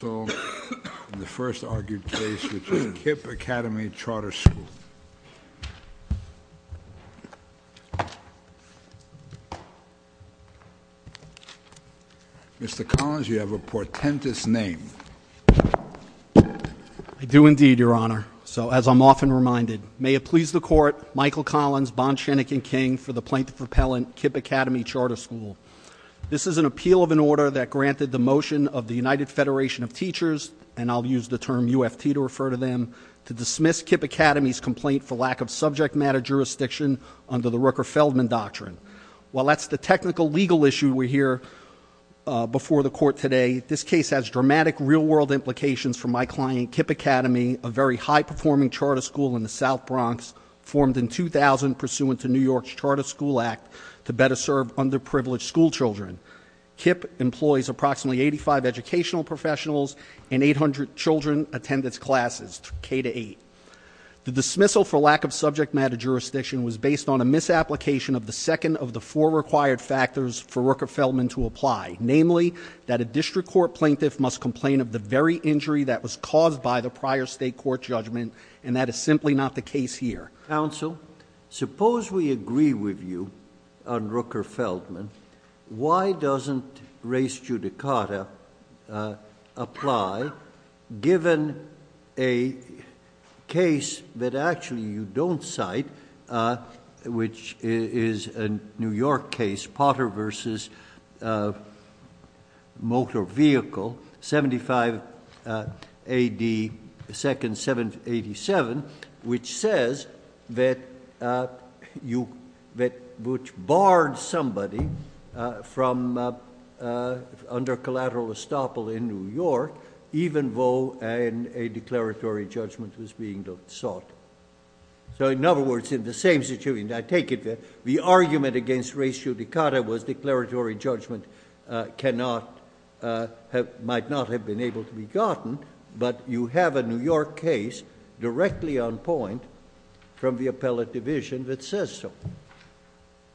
The first argued case which is KIPP Academy Charter School. Mr. Collins, you have a portentous name. I do indeed, Your Honor. So, as I'm often reminded, may it please the Court, Michael Collins, Bond, Chenick, and King for the plaintiff repellent, KIPP Academy Charter School. This is an appeal of an order that granted the motion of the United Federation of Teachers, and I'll use the term UFT to refer to them, to dismiss KIPP Academy's complaint for lack of subject matter jurisdiction under the Rooker-Feldman Doctrine. While that's the technical legal issue we hear before the Court today, this case has dramatic real-world implications for my client, KIPP Academy, a very high-performing charter school in the South Bronx, formed in 2000 pursuant to New York's Charter School Act to better serve underprivileged school children. KIPP employs approximately 85 educational professionals, and 800 children attend its classes, K-8. The dismissal for lack of subject matter jurisdiction was based on a misapplication of the second of the four required factors for Rooker-Feldman to apply. Namely, that a district court plaintiff must complain of the very injury that was caused by the prior state court judgment, and that is simply not the case here. Counsel, suppose we agree with you on Rooker-Feldman. Why doesn't res judicata apply, given a case that actually you don't cite, which is a New York case, Potter v. Motor Vehicle, 75 A.D. 2nd, 787, which says that Butch barred somebody under collateral estoppel in New York, even though a declaratory judgment was being sought. So in other words, in the same situation, I take it that the argument against res judicata was declaratory judgment might not have been able to be gotten, but you have a New York case directly on point from the appellate division that says so.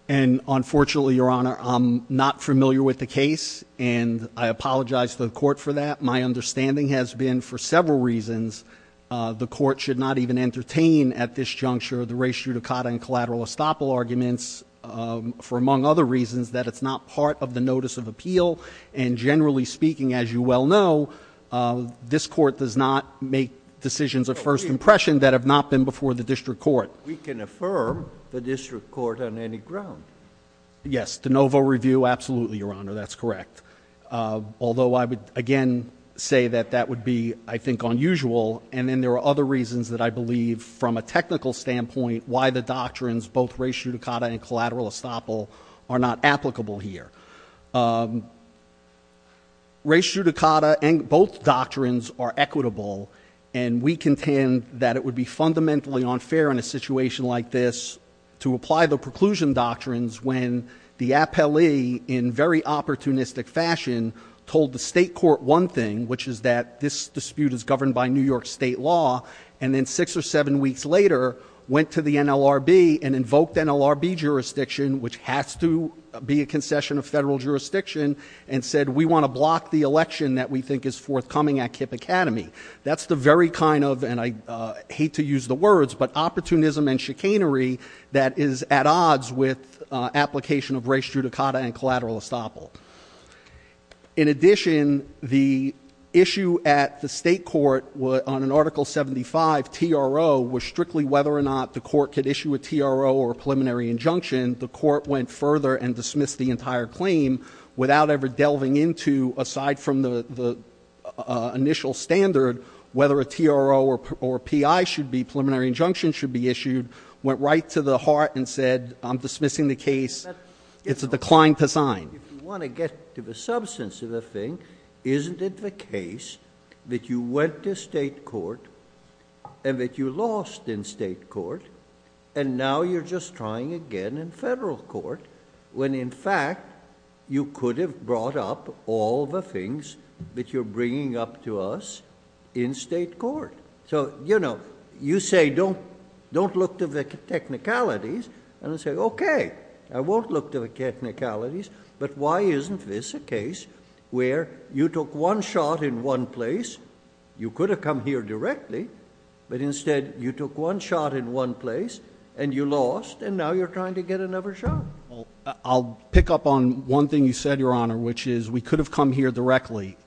And unfortunately, Your Honor, I'm not familiar with the case, and I apologize to the court for that. My understanding has been, for several reasons, the court should not even entertain at this juncture the res judicata and collateral estoppel arguments for, among other reasons, that it's not part of the notice of appeal. And generally speaking, as you well know, this court does not make decisions of first impression that have not been before the district court. We can affirm the district court on any ground. Yes, de novo review, absolutely, Your Honor, that's correct. Although I would, again, say that that would be, I think, unusual. And then there are other reasons that I believe, from a technical standpoint, why the doctrines, both res judicata and collateral estoppel, are not applicable here. Res judicata and both doctrines are equitable, and we contend that it would be fundamentally unfair in a situation like this to apply the preclusion doctrines when the appellee, in very opportunistic fashion, told the state court one thing, which is that this dispute is governed by New York state law. And then six or seven weeks later, went to the NLRB and invoked NLRB jurisdiction, which has to be a concession of federal jurisdiction, and said, we want to block the election that we think is forthcoming at KIPP Academy. That's the very kind of, and I hate to use the words, but opportunism and chicanery that is at odds with application of res judicata and collateral estoppel. In addition, the issue at the state court on an Article 75 TRO was strictly whether or not the court could issue a TRO or a preliminary injunction. The court went further and dismissed the entire claim without ever delving into, aside from the initial standard, whether a TRO or a PI should be preliminary injunction should be issued, went right to the heart and said, I'm dismissing the case. It's a decline to sign. If you want to get to the substance of the thing, isn't it the case that you went to state court, and that you lost in state court, and now you're just trying again in federal court, when in fact you could have brought up all the things that you're bringing up to us in state court. So you say, don't look to the technicalities, and I say, okay, I won't look to the technicalities, but why isn't this a case where you took one shot in one place, you could have come here directly, but instead you took one shot in one place, and you lost, and now you're trying to get another shot. Well, I'll pick up on one thing you said, Your Honor, which is we could have come here directly.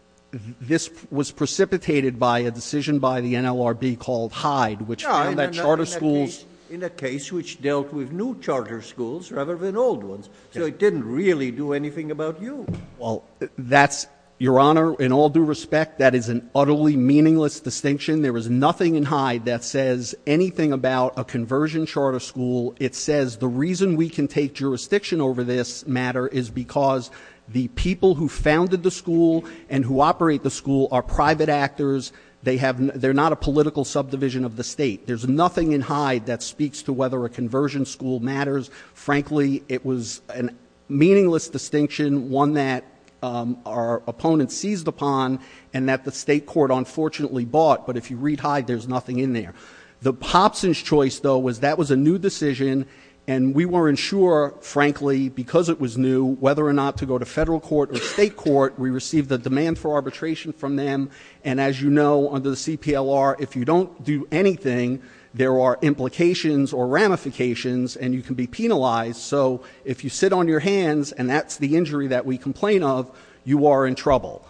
This was precipitated by a decision by the NLRB called Hyde, which found that charter schools- In a case which dealt with new charter schools rather than old ones. So it didn't really do anything about you. Well, that's, Your Honor, in all due respect, that is an utterly meaningless distinction. There was nothing in Hyde that says anything about a conversion charter school. It says the reason we can take jurisdiction over this matter is because the people who founded the school and who operate the school are private actors, they're not a political subdivision of the state. There's nothing in Hyde that speaks to whether a conversion school matters. Frankly, it was a meaningless distinction, one that our opponents seized upon, and that the state court unfortunately bought, but if you read Hyde, there's nothing in there. The Popson's choice, though, was that was a new decision, and we weren't sure, frankly, because it was new, whether or not to go to federal court or state court. We received a demand for arbitration from them, and as you know, under the CPLR, if you don't do anything, there are implications or ramifications, and you can be penalized. So if you sit on your hands, and that's the injury that we complain of, you are in trouble.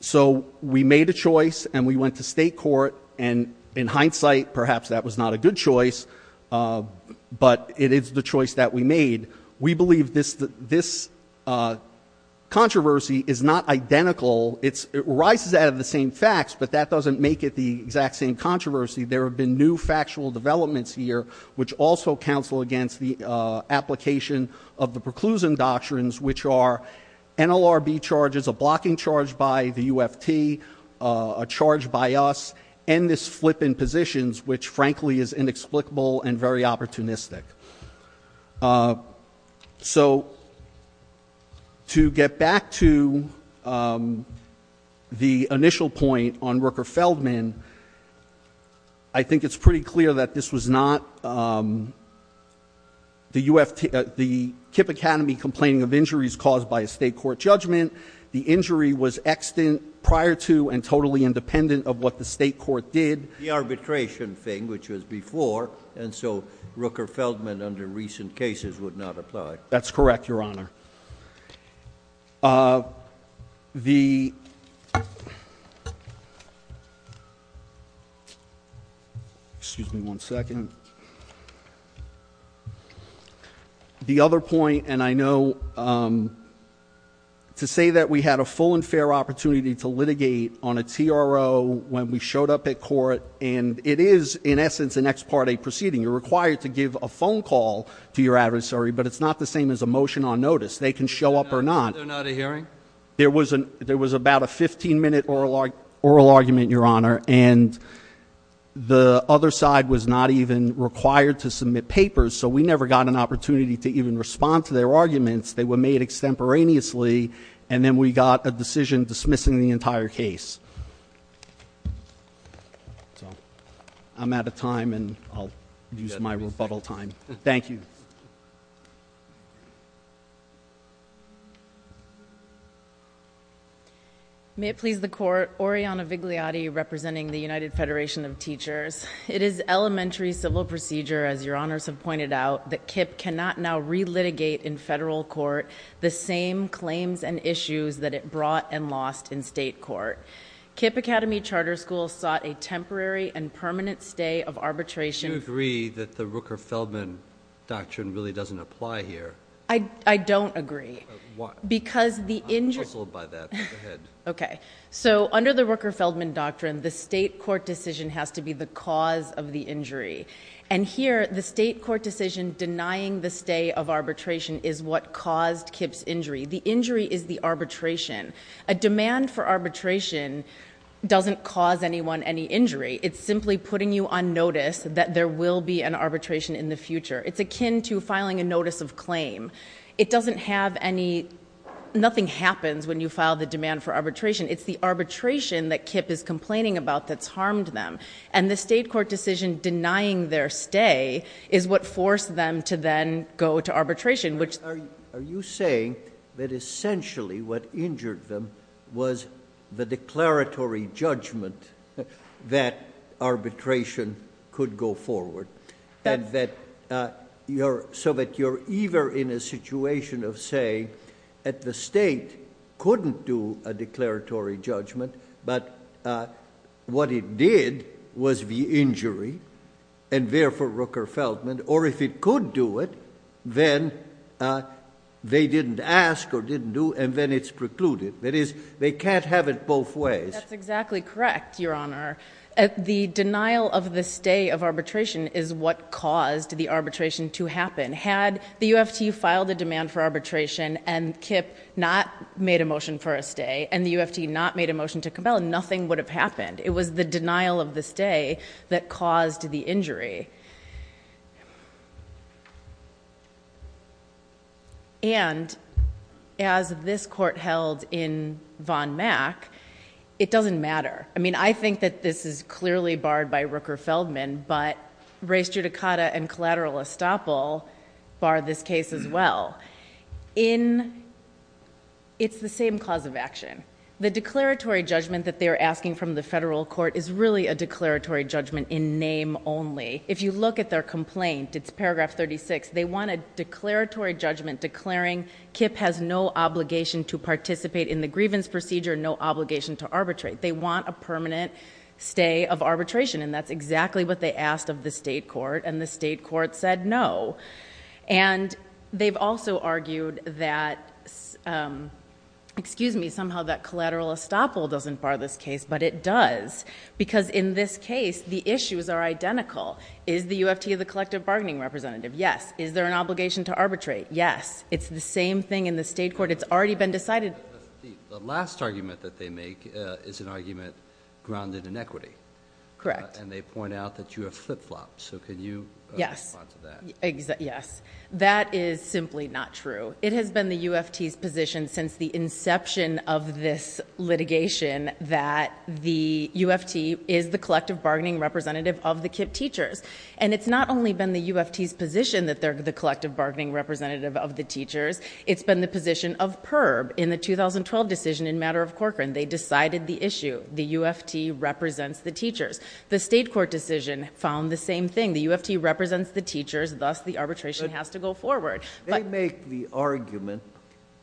So we made a choice, and we went to state court, and in hindsight, perhaps that was not a good choice, but it is the choice that we made. We believe this controversy is not identical. It arises out of the same facts, but that doesn't make it the exact same controversy. There have been new factual developments here, which also counsel against the application of the preclusion doctrines, which are NLRB charges, a blocking charge by the UFT, a charge by us, and this flip in positions, which, frankly, is inexplicable and very opportunistic. So to get back to the initial point on Rooker-Feldman, I think it's pretty clear that this was not the KIPP Academy complaining of injuries caused by a state court judgment. The injury was extant prior to and totally independent of what the state court did. The arbitration thing, which was before, and so Rooker-Feldman under recent cases would not apply. That's correct, Your Honor. Excuse me one second. The other point, and I know to say that we had a full and fair opportunity to litigate on a TRO when we showed up at court, and it is, in essence, an ex parte proceeding. You're required to give a phone call to your adversary, but it's not the same as a motion on notice. They can show up or not. They're not a hearing? There was about a 15 minute oral argument, Your Honor, and the other side was not even required to submit papers. So we never got an opportunity to even respond to their arguments. They were made extemporaneously, and then we got a decision dismissing the entire case. So I'm out of time, and I'll use my rebuttal time. Thank you. May it please the court, Oriana Vigliotti representing the United Federation of Teachers. It is elementary civil procedure, as Your Honors have pointed out, that KIPP cannot now re-litigate in federal court the same claims and issues that it brought and lost in state court. KIPP Academy Charter School sought a temporary and permanent stay of arbitration. Do you agree that the Rooker-Feldman Doctrine really doesn't apply here? I don't agree. I'm puzzled by that. Go ahead. Okay. So under the Rooker-Feldman Doctrine, the state court decision has to be the cause of the injury. And here, the state court decision denying the stay of arbitration is what caused KIPP's injury. The injury is the arbitration. A demand for arbitration doesn't cause anyone any injury. It's simply putting you on notice that there will be an arbitration in the future. It's akin to filing a notice of claim. It doesn't have any – nothing happens when you file the demand for arbitration. It's the arbitration that KIPP is complaining about that's harmed them. And the state court decision denying their stay is what forced them to then go to arbitration, which – Are you saying that essentially what injured them was the declaratory judgment that arbitration could go forward? And that you're – so that you're either in a situation of saying that the state couldn't do a declaratory judgment but what it did was the injury and therefore Rooker-Feldman, or if it could do it, then they didn't ask or didn't do, and then it's precluded. That is, they can't have it both ways. That's exactly correct, Your Honor. The denial of the stay of arbitration is what caused the arbitration to happen. Had the UFT filed a demand for arbitration and KIPP not made a motion for a stay and the UFT not made a motion to compel, nothing would have happened. It was the denial of the stay that caused the injury. And as this court held in von Mack, it doesn't matter. I mean, I think that this is clearly barred by Rooker-Feldman, but race judicata and collateral estoppel bar this case as well. It's the same cause of action. The declaratory judgment that they're asking from the federal court is really a declaratory judgment in name only. If you look at their complaint, it's paragraph 36, they want a declaratory judgment declaring KIPP has no obligation to participate in the grievance procedure, no obligation to arbitrate. They want a permanent stay of arbitration, and that's exactly what they asked of the state court, and the state court said no. And they've also argued that, excuse me, somehow that collateral estoppel doesn't bar this case, but it does, because in this case, the issues are identical. Is the UFT the collective bargaining representative? Yes. Is there an obligation to arbitrate? Yes. It's the same thing in the state court. It's already been decided. The last argument that they make is an argument grounded in equity. Correct. And they point out that you have flip-flops, so can you respond to that? Yes. That is simply not true. It has been the UFT's position since the inception of this litigation that the UFT is the collective bargaining representative of the KIPP teachers, and it's not only been the UFT's position that they're the collective bargaining representative of the teachers, it's been the position of PERB in the 2012 decision in matter of Corcoran. They decided the issue. The UFT represents the teachers. The state court decision found the same thing. The UFT represents the teachers, thus the arbitration has to go forward. They make the argument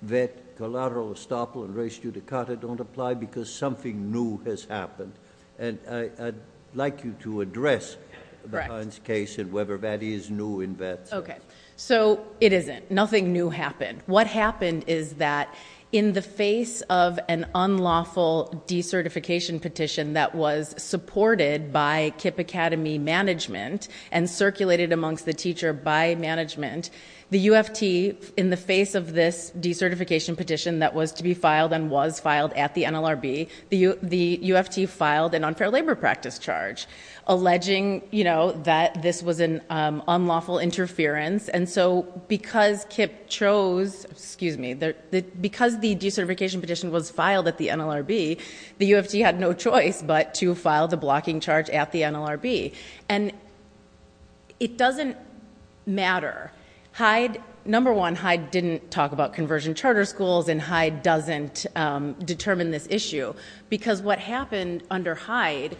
that collateral estoppel and res judicata don't apply because something new has happened, and I'd like you to address the Heinz case and whether that is new in that. Okay. So it isn't. Nothing new happened. What happened is that in the face of an unlawful decertification petition that was supported by KIPP Academy management and circulated amongst the teacher by management, the UFT in the face of this decertification petition that was to be filed and was filed at the NLRB, the UFT filed an unfair labor practice charge alleging that this was an unlawful interference, and so because KIPP chose, excuse me, because the decertification petition was filed at the NLRB, the UFT had no choice but to file the blocking charge at the NLRB. And it doesn't matter. Number one, Hyde didn't talk about conversion charter schools, and Hyde doesn't determine this issue because what happened under Hyde,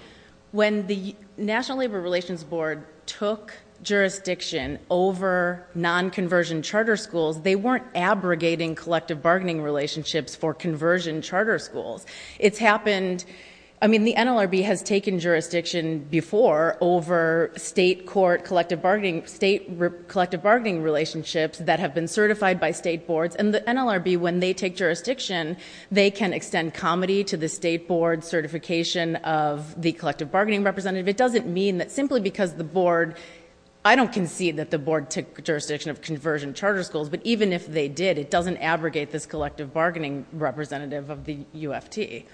when the National Labor Relations Board took jurisdiction over non-conversion charter schools, they weren't abrogating collective bargaining relationships for conversion charter schools. It's happened, I mean, the NLRB has taken jurisdiction before over state court collective bargaining, state collective bargaining relationships that have been certified by state boards, and the NLRB, when they take jurisdiction, they can extend comedy to the state board certification of the collective bargaining representative. It doesn't mean that simply because the board, I don't concede that the board took jurisdiction of conversion charter schools, but even if they did, it doesn't abrogate this collective bargaining representative of the UFT.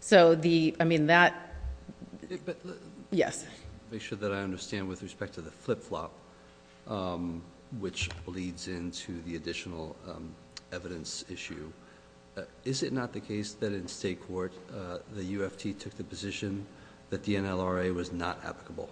So the, I mean, that, yes. Make sure that I understand with respect to the flip-flop, which bleeds into the additional evidence issue. Is it not the case that in state court, the UFT took the position that the NLRA was not applicable?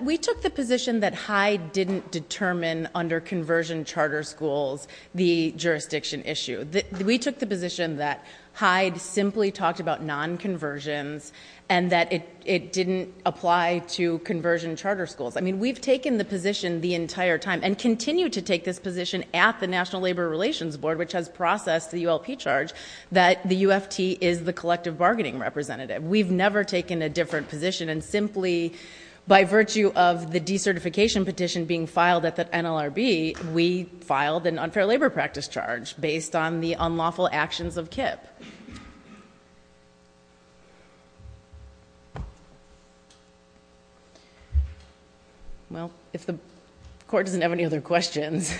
We took the position that Hyde didn't determine under conversion charter schools the jurisdiction issue. We took the position that Hyde simply talked about non-conversions and that it didn't apply to conversion charter schools. I mean, we've taken the position the entire time and continue to take this position at the National Labor Relations Board, which has processed the ULP charge, that the UFT is the collective bargaining representative. We've never taken a different position, and simply by virtue of the decertification petition being filed at the NLRB, we filed an unfair labor practice charge based on the unlawful actions of KIPP. Well, if the court doesn't have any other questions,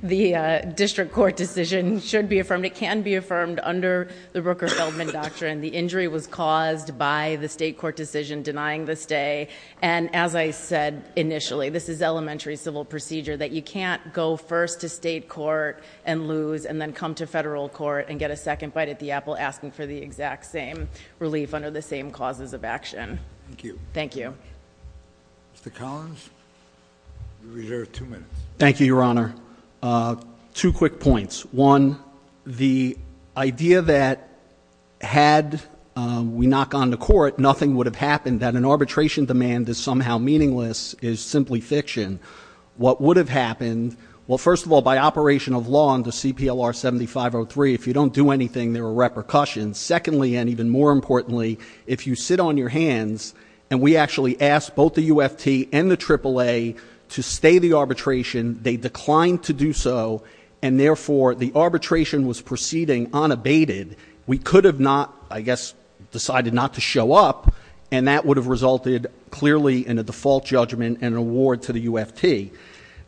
the district court decision should be affirmed. It can be affirmed under the Rooker-Feldman doctrine. The injury was caused by the state court decision denying the stay, and as I said initially, this is elementary civil procedure, that you can't go first to state court and lose and then come to federal court and get a second bite at the apple asking for the exact same relief under the same causes of action. Thank you. Mr. Collins, you reserve two minutes. Thank you, Your Honor. One, the idea that had we not gone to court, nothing would have happened, that an arbitration demand is somehow meaningless is simply fiction. What would have happened? Well, first of all, by operation of law under CPLR 7503, if you don't do anything, there are repercussions. Secondly, and even more importantly, if you sit on your hands, and we actually asked both the UFT and the AAA to stay the arbitration, they declined to do so, and therefore the arbitration was proceeding unabated, we could have not, I guess, decided not to show up, and that would have resulted clearly in a default judgment and an award to the UFT.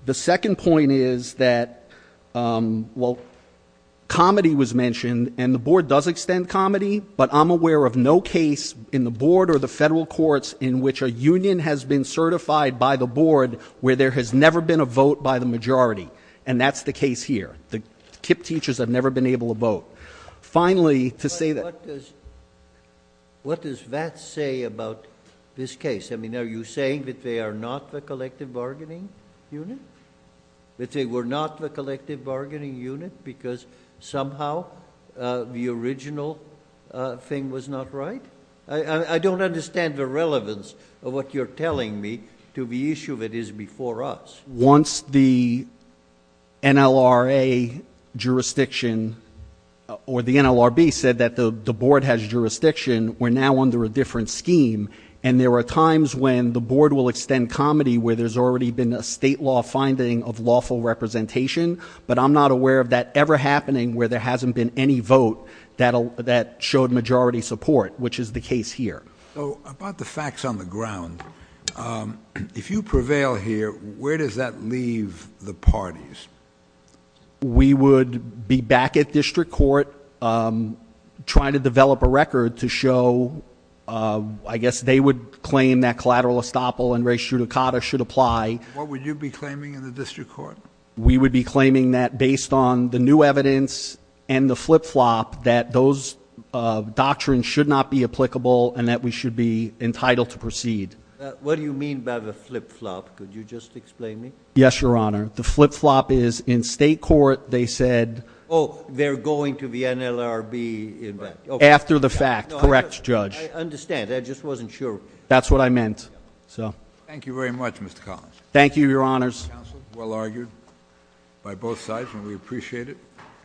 The second point is that, well, comedy was mentioned, and the Board does extend comedy, but I'm aware of no case in the Board or the federal courts in which a union has been certified by the Board where there has never been a vote by the majority, and that's the case here. The KIPP teachers have never been able to vote. Finally, to say that... But what does that say about this case? I mean, are you saying that they are not the collective bargaining unit? That they were not the collective bargaining unit because somehow the original thing was not right? I don't understand the relevance of what you're telling me to the issue that is before us. Once the NLRA jurisdiction, or the NLRB said that the Board has jurisdiction, we're now under a different scheme, and there are times when the Board will extend comedy where there's already been a state law finding of lawful representation, but I'm not aware of that ever happening where there hasn't been any vote that showed majority support, which is the case here. So about the facts on the ground, if you prevail here, where does that leave the parties? We would be back at district court trying to develop a record to show, I guess they would claim that collateral estoppel and res judicata should apply. What would you be claiming in the district court? We would be claiming that based on the new evidence and the flip-flop that those doctrines should not be applicable and that we should be entitled to proceed. What do you mean by the flip-flop? Could you just explain to me? Yes, Your Honor. The flip-flop is in state court they said... Oh, they're going to the NLRB. After the fact. Correct, Judge. I understand. I just wasn't sure. That's what I meant. Thank you very much, Mr. Collins. Thank you, Your Honors. Well argued by both sides, and we appreciate it.